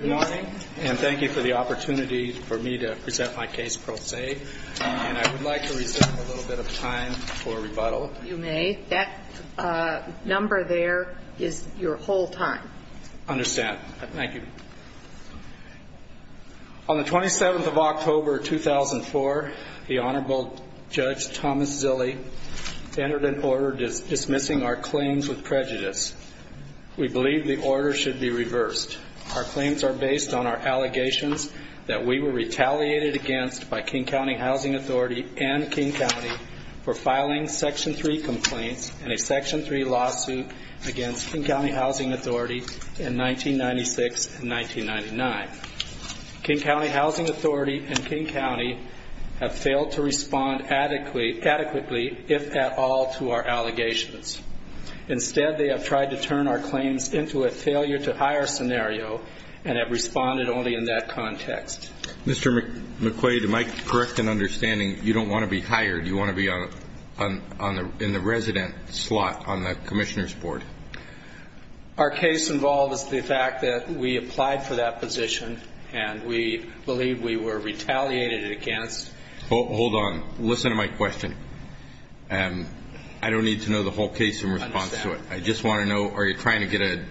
Good morning, and thank you for the opportunity for me to present my case pro se, and I would like to reserve a little bit of time for rebuttal. You may. That number there is your whole time. I understand. Thank you. On the 27th of October, 2004, the Honorable Judge Thomas Zille entered an order dismissing our claims with prejudice. We believe the order should be reversed. Our claims are based on our allegations that we were retaliated against by King County Housing Authority and King County for filing Section 3 complaints in a Section 3 lawsuit against King County Housing Authority in 1996 and 1999. King County Housing Authority and King County have failed to respond adequately, if at all, to our allegations. Instead, they have tried to turn our claims into a failure-to-hire scenario and have responded only in that context. Mr. McQuade, am I correct in understanding you don't want to be hired? You want to be in the resident slot on the Commissioner's Board? Our case involves the fact that we applied for that position, and we believe we were retaliated against. Hold on. Listen to my question. I don't need to know the whole case in response to it. I just want to know, are you trying to get a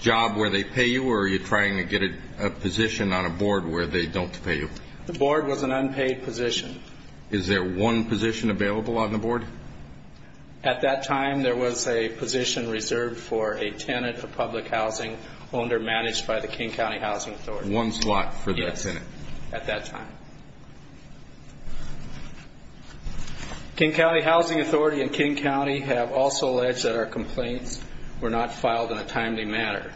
job where they pay you, or are you trying to get a position on a board where they don't pay you? The board was an unpaid position. Is there one position available on the board? At that time, there was a position reserved for a tenant for public housing, owner managed by the King County Housing Authority. There was one slot for that tenant? Yes, at that time. King County Housing Authority and King County have also alleged that our complaints were not filed in a timely manner.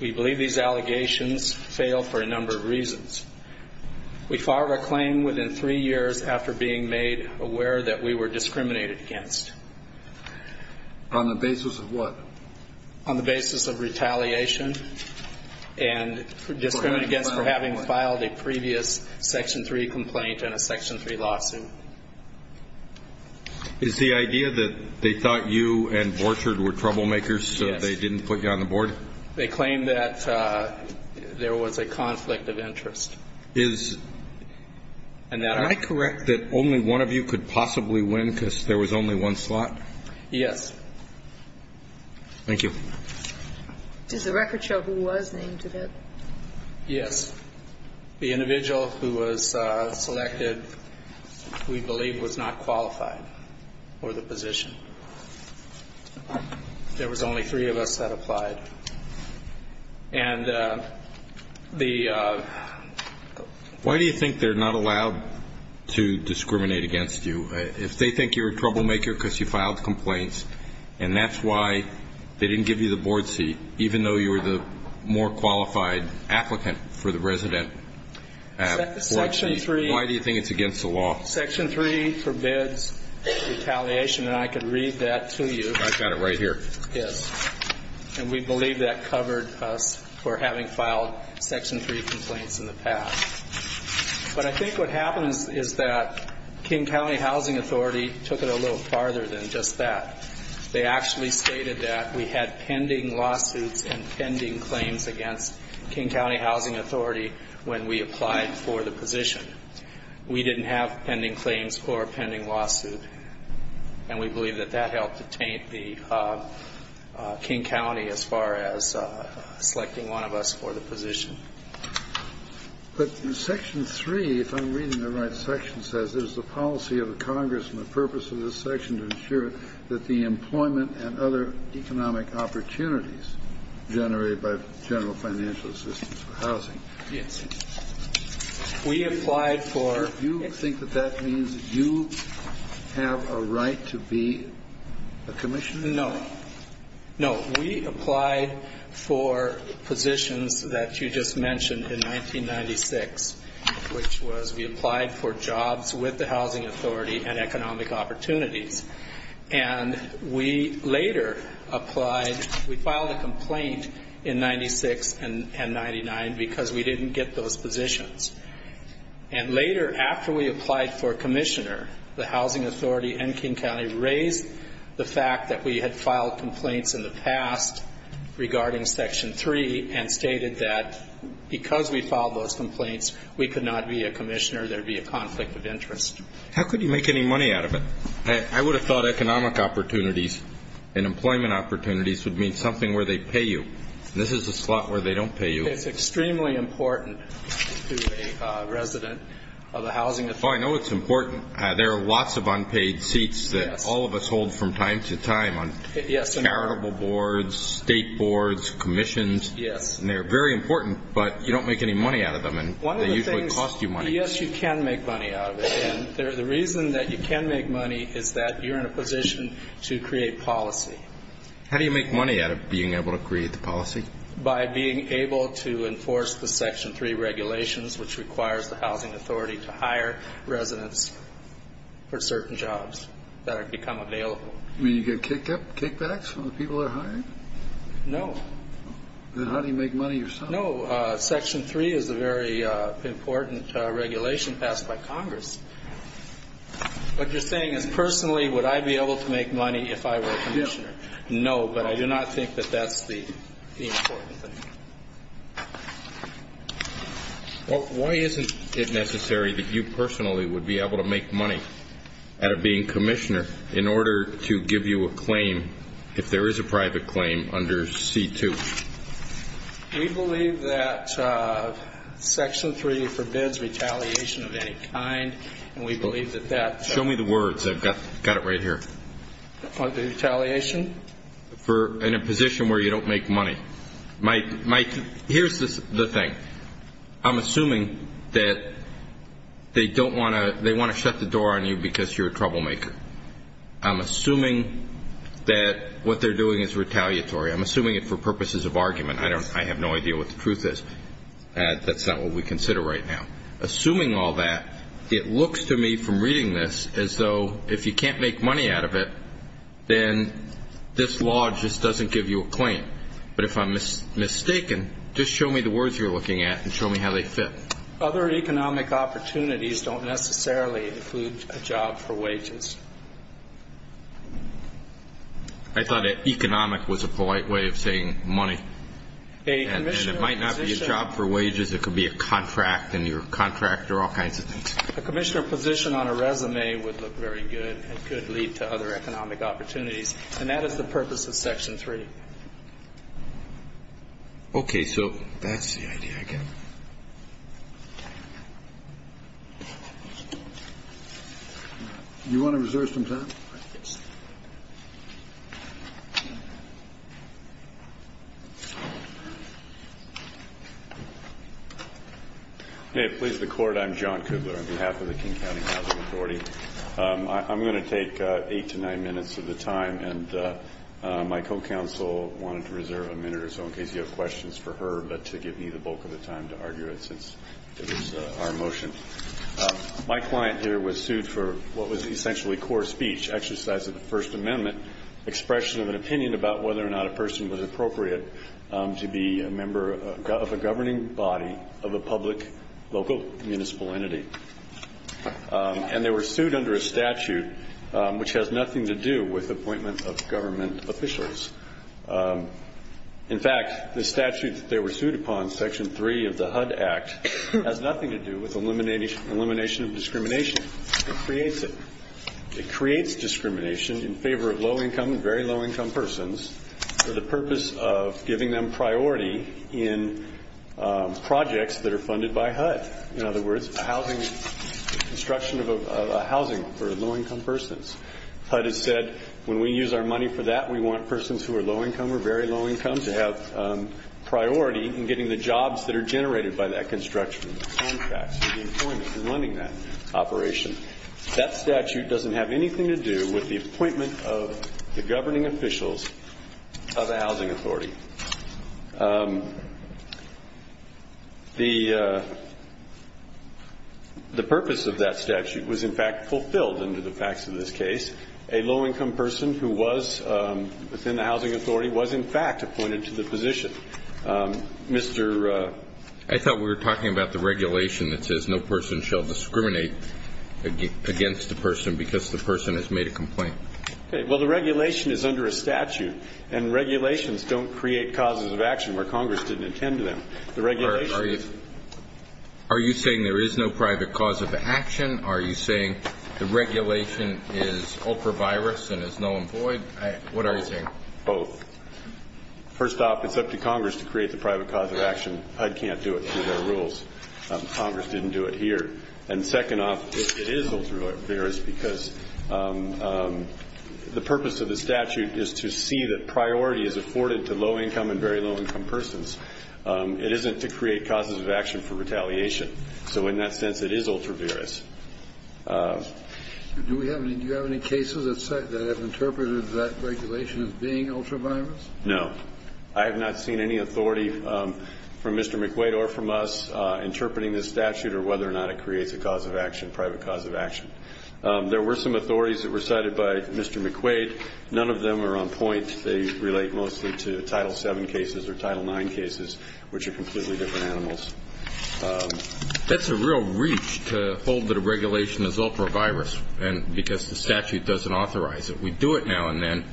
We believe these allegations fail for a number of reasons. We filed our claim within three years after being made aware that we were discriminated against. On the basis of what? On the basis of retaliation and discriminated against for having filed a previous Section 3 complaint and a Section 3 lawsuit. Is the idea that they thought you and Borchardt were troublemakers so they didn't put you on the board? Yes. They claimed that there was a conflict of interest. Is that correct that only one of you could possibly win because there was only one slot? Yes. Thank you. Does the record show who was named to that? Yes. The individual who was selected, we believe, was not qualified for the position. There was only three of us that applied. And the... Why do you think they're not allowed to discriminate against you? If they think you're a troublemaker because you filed complaints and that's why they didn't give you the board seat, even though you were the more qualified applicant for the resident board seat, why do you think it's against the law? Section 3 forbids retaliation, and I can read that to you. I've got it right here. Yes. And we believe that covered us for having filed Section 3 complaints in the past. But I think what happens is that King County Housing Authority took it a little farther than just that. They actually stated that we had pending lawsuits and pending claims against King County Housing Authority when we applied for the position. We didn't have pending claims or a pending lawsuit, and we believe that that helped detain King County as far as selecting one of us for the position. But Section 3, if I'm reading the right section, says, there's a policy of the Congress and the purpose of this section to ensure that the employment and other economic opportunities generated by general financial assistance for housing... Yes. We applied for... Do you have a right to be a commissioner? No. No. We applied for positions that you just mentioned in 1996, which was we applied for jobs with the housing authority and economic opportunities. And we later applied. We filed a complaint in 96 and 99 because we didn't get those positions. And later, after we applied for commissioner, the housing authority and King County raised the fact that we had filed complaints in the past regarding Section 3 and stated that because we filed those complaints, we could not be a commissioner. There would be a conflict of interest. How could you make any money out of it? I would have thought economic opportunities and employment opportunities would mean something where they pay you. This is a slot where they don't pay you. It's extremely important to a resident of a housing authority. I know it's important. There are lots of unpaid seats that all of us hold from time to time on charitable boards, state boards, commissions, and they're very important, but you don't make any money out of them and they usually cost you money. Yes, you can make money out of it. And the reason that you can make money is that you're in a position to create policy. How do you make money out of being able to create the policy? By being able to enforce the Section 3 regulations, which requires the housing authority to hire residents for certain jobs that have become available. Do you get kickbacks from the people that hire you? No. Then how do you make money yourself? Section 3 is a very important regulation passed by Congress. What you're saying is personally would I be able to make money if I were a commissioner? No, but I do not think that that's the important thing. Why isn't it necessary that you personally would be able to make money out of being commissioner in order to give you a claim if there is a private claim under C-2? We believe that Section 3 forbids retaliation of any kind, and we believe that that's Show me the words. I've got it right here. Under retaliation? In a position where you don't make money. Mike, here's the thing. I'm assuming that they want to shut the door on you because you're a troublemaker. I'm assuming that what they're doing is retaliatory. I'm assuming it for purposes of argument. I have no idea what the truth is. That's not what we consider right now. Assuming all that, it looks to me from reading this as though if you can't make money out of it, then this law just doesn't give you a claim. But if I'm mistaken, just show me the words you're looking at and show me how they fit. Other economic opportunities don't necessarily include a job for wages. I thought economic was a polite way of saying money. And it might not be a job for wages. It could be a contract and your contract or all kinds of things. A commissioner position on a resume would look very good. It could lead to other economic opportunities. And that is the purpose of Section 3. Okay. So that's the idea, I guess. Do you want to reserve some time? Yes. Hey, please, the Court. I'm John Kubler on behalf of the King County Housing Authority. I'm going to take eight to nine minutes of the time. And my co-counsel wanted to reserve a minute or so in case you have questions for her, but to give me the bulk of the time to argue it since it was our motion. My client here was sued for what was essentially core speech, exercise of the First Amendment, expression of an opinion about whether or not a person was appropriate to be a member of a governing body of a public, local, municipal entity. And they were sued under a statute which has nothing to do with appointment of government officials. In fact, the statute that they were sued upon, Section 3 of the HUD Act, has nothing to do with elimination of discrimination. It creates it. It creates discrimination in favor of low-income and very low-income persons for the purpose of giving them priority in projects that are funded by HUD. In other words, housing, construction of a housing for low-income persons. HUD has said when we use our money for that, we want persons who are low-income or very low-income to have priority in getting the jobs that are generated by that construction, the contracts, the employment, and running that operation. That statute doesn't have anything to do with the appointment of the governing officials of a housing authority. The purpose of that statute was, in fact, fulfilled under the facts of this case. A low-income person who was within the housing authority was, in fact, appointed to the position. Mr. ---- I thought we were talking about the regulation that says no person shall discriminate against the person because the person has made a complaint. Okay. Well, the regulation is under a statute, and regulations don't create discrimination. They create causes of action where Congress didn't attend to them. The regulation is ---- Are you saying there is no private cause of action? Are you saying the regulation is ultra-virus and is null and void? What are you saying? Both. First off, it's up to Congress to create the private cause of action. HUD can't do it through their rules. Congress didn't do it here. And second off, it is ultra-virus because the purpose of the statute is to see that for low-income and very low-income persons. It isn't to create causes of action for retaliation. So in that sense, it is ultra-virus. Do you have any cases that have interpreted that regulation as being ultra-virus? No. I have not seen any authority from Mr. McQuaid or from us interpreting this statute or whether or not it creates a cause of action, private cause of action. There were some authorities that were cited by Mr. McQuaid. None of them are on point. They relate mostly to Title VII cases or Title IX cases, which are completely different animals. That's a real reach to hold that a regulation is ultra-virus because the statute doesn't authorize it. We do it now and then,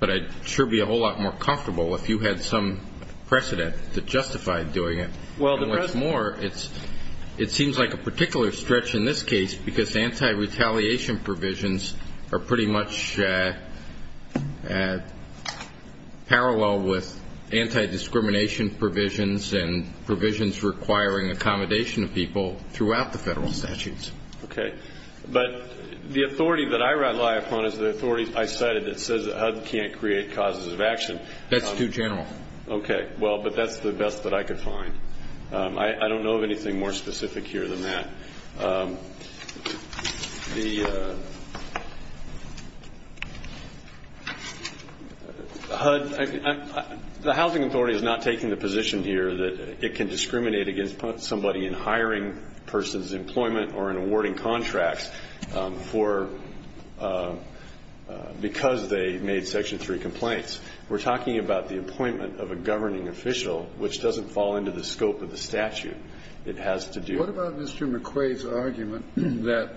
but I'd sure be a whole lot more comfortable if you had some precedent that justified doing it. And what's more, it seems like a particular stretch in this case because anti-retaliation provisions are pretty much parallel with anti-discrimination provisions and provisions requiring accommodation of people throughout the federal statutes. Okay. But the authority that I rely upon is the authority I cited that says HUD can't create causes of action. That's too general. Okay. Well, but that's the best that I could find. I don't know of anything more specific here than that. The Housing Authority is not taking the position here that it can discriminate against somebody in hiring a person's employment or in awarding contracts because they made Section 3 complaints. We're talking about the appointment of a governing official, which doesn't fall into the scope of the statute. It has to do. What about Mr. McQuaid's argument that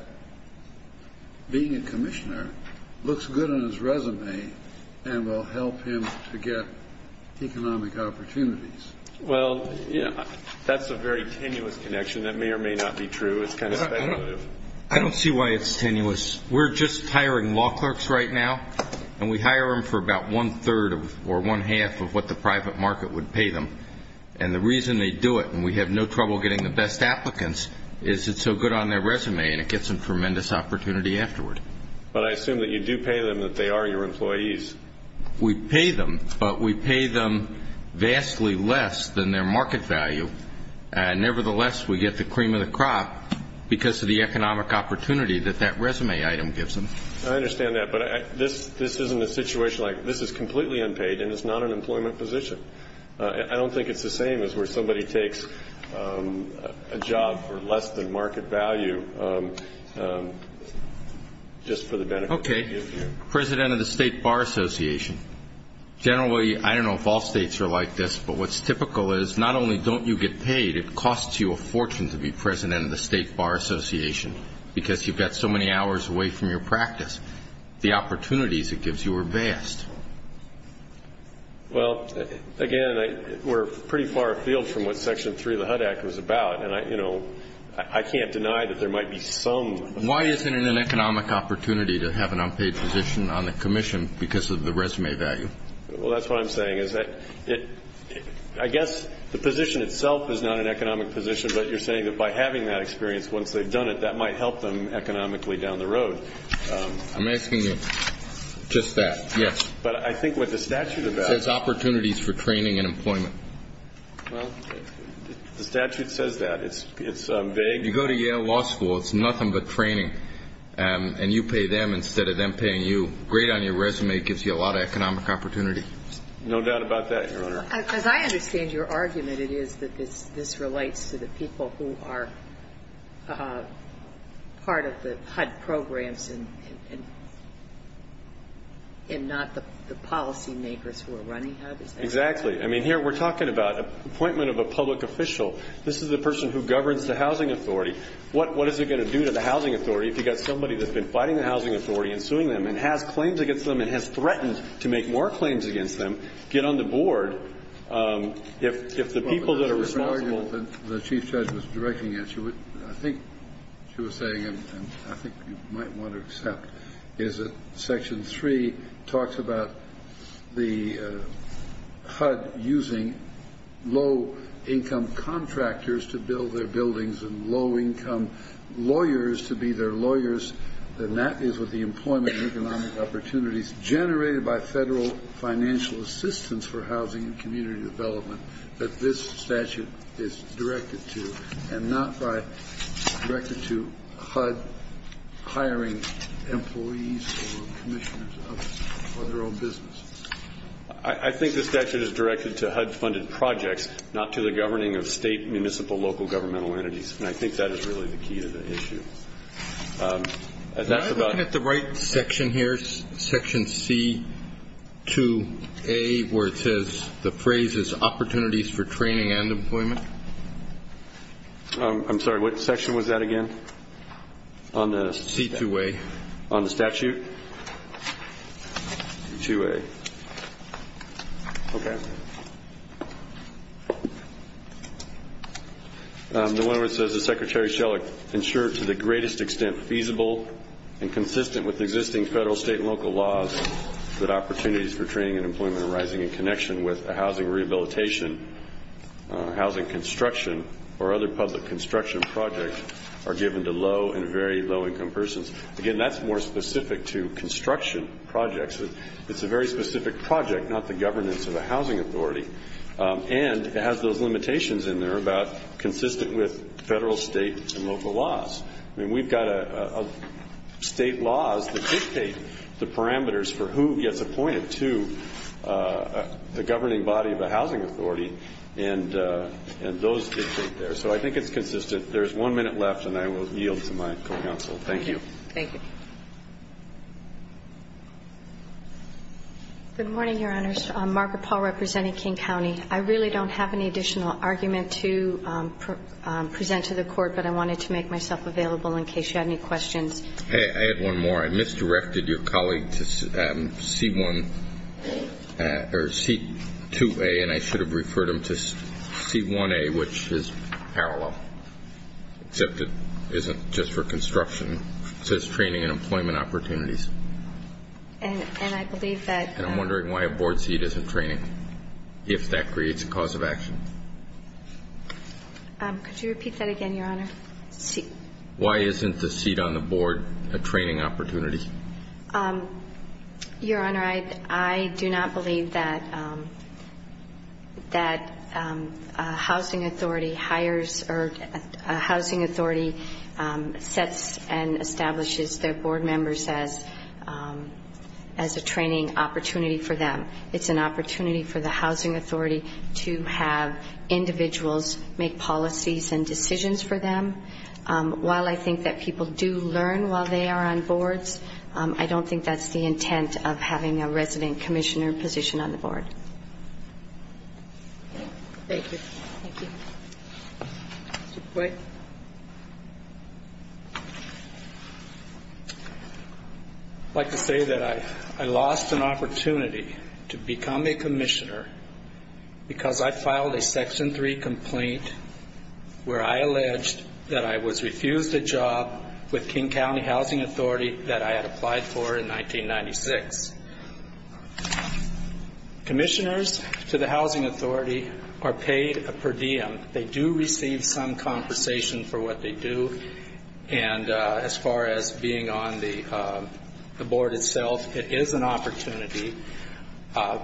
being a commissioner looks good on his resume and will help him to get economic opportunities? Well, that's a very tenuous connection. That may or may not be true. It's kind of speculative. I don't see why it's tenuous. We're just hiring law clerks right now, and we hire them for about one-third or one-half of what the private market would pay them. And the reason they do it, and we have no trouble getting the best applicants, is it's so good on their resume and it gets them tremendous opportunity afterward. But I assume that you do pay them that they are your employees. We pay them, but we pay them vastly less than their market value. Nevertheless, we get the cream of the crop because of the economic opportunity that that resume item gives them. I understand that. But this isn't a situation like this is completely unpaid and it's not an employment position. I don't think it's the same as where somebody takes a job for less than market value just for the benefit. Okay. President of the State Bar Association, generally, I don't know if all states are like this, but what's typical is not only don't you get paid, it costs you a fortune to be president of the State Bar Association because you've got so many hours away from your practice. The opportunities it gives you are vast. Well, again, we're pretty far afield from what Section 3 of the HUD Act was about, and I can't deny that there might be some. Why isn't it an economic opportunity to have an unpaid position on the commission because of the resume value? Well, that's what I'm saying is that I guess the position itself is not an economic position, but you're saying that by having that experience once they've done it, that might help them economically down the road. I'm asking you just that, yes. But I think what the statute says is opportunities for training and employment. Well, the statute says that. It's vague. You go to Yale Law School, it's nothing but training, and you pay them instead of them paying you. Being great on your resume gives you a lot of economic opportunity. No doubt about that, Your Honor. As I understand your argument, it is that this relates to the people who are part of the HUD programs and not the policymakers who are running HUD. Exactly. I mean, here we're talking about appointment of a public official. This is the person who governs the housing authority. What is it going to do to the housing authority if you've got somebody that's been fighting the housing authority and suing them and has claims against them and has threatened to make more claims against them get on the board? If the people that are responsible. The Chief Judge was directing it. I think she was saying, and I think you might want to accept, is that Section 3 talks about the HUD using low-income contractors to build their buildings and low-income lawyers to be their lawyers, and that is with the employment and economic opportunities generated by federal financial assistance for housing and community development that this statute is directed to and not by directed to HUD hiring employees or commissioners for their own business. I think the statute is directed to HUD-funded projects, not to the governing of state, municipal, local governmental entities, and I think that is really the key to the issue. Can I look at the right section here, Section C-2A, where it says the phrase is opportunities for training and employment? I'm sorry, what section was that again? C-2A. On the statute? C-2A. Okay. The one where it says the Secretary shall ensure to the greatest extent feasible and consistent with existing federal, state, and local laws that opportunities for training and employment arising in connection with housing rehabilitation, housing construction, or other public construction projects are given to low and very low-income persons. Again, that's more specific to construction projects. It's a very specific project, not the governance of a housing authority, and it has those limitations in there about consistent with federal, state, and local laws. I mean, we've got state laws that dictate the parameters for who gets appointed to the governing body of a housing authority, and those dictate there. So I think it's consistent. There's one minute left, and I will yield to my co-counsel. Thank you. Thank you. Good morning, Your Honors. Margaret Paul representing King County. I really don't have any additional argument to present to the Court, but I wanted to make myself available in case you had any questions. I had one more. I misdirected your colleague to C-1 or C-2A, and I should have referred him to C-1A, which is parallel, except it isn't just for construction. It says training and employment opportunities. And I believe that – And I'm wondering why a board seat isn't training, if that creates a cause of action. Could you repeat that again, Your Honor? Why isn't the seat on the board a training opportunity? Your Honor, I do not believe that a housing authority hires or a housing authority sets and establishes their board members as a training opportunity for them. It's an opportunity for the housing authority to have individuals make policies and decisions for them. While I think that people do learn while they are on boards, I don't think that's the intent of having a resident commissioner position on the board. Thank you. Thank you. Mr. Boyd? I'd like to say that I lost an opportunity to become a commissioner because I filed a Section 3 complaint where I alleged that I was refused a job with King County Housing Authority that I had applied for in 1996. Commissioners to the housing authority are paid per diem. They do receive some compensation for what they do, and as far as being on the board itself, it is an opportunity.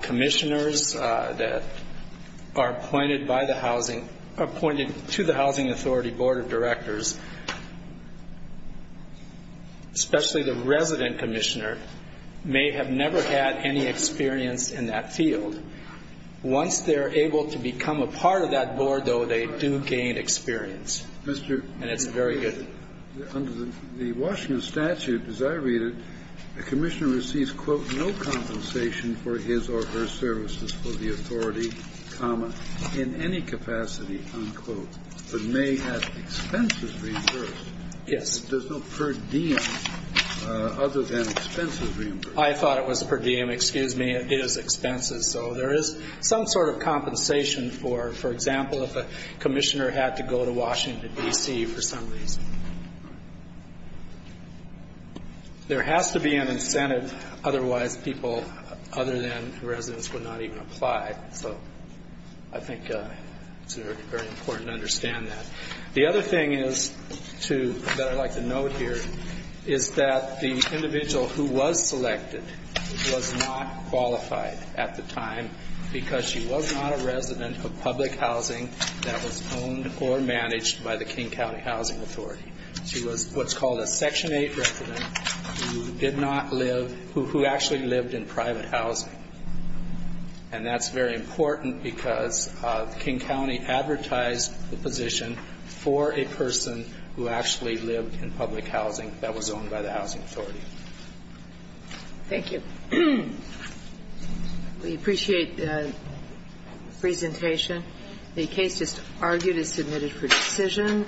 Commissioners that are appointed to the housing authority board of directors, especially the resident commissioner, may have never had any experience in that field. Once they're able to become a part of that board, though, they do gain experience, and it's very good. Under the Washington statute, as I read it, a commissioner receives, quote, no compensation for his or her services for the authority, comma, in any capacity, unquote, but may have expenses reimbursed. Yes. There's no per diem other than expenses reimbursed. I thought it was per diem. Excuse me. It is expenses. So there is some sort of compensation for, for example, if a commissioner had to go to Washington, D.C., for some reason. There has to be an incentive. Otherwise, people other than residents would not even apply. So I think it's very important to understand that. The other thing that I'd like to note here is that the individual who was selected was not qualified at the time because she was not a resident of public housing that was owned or managed by the King County Housing Authority. She was what's called a Section 8 resident who did not live, who actually lived in private housing. And that's very important because King County advertised the position for a person who actually lived in public housing that was owned by the housing authority. Thank you. We appreciate the presentation. The case just argued is submitted for decision.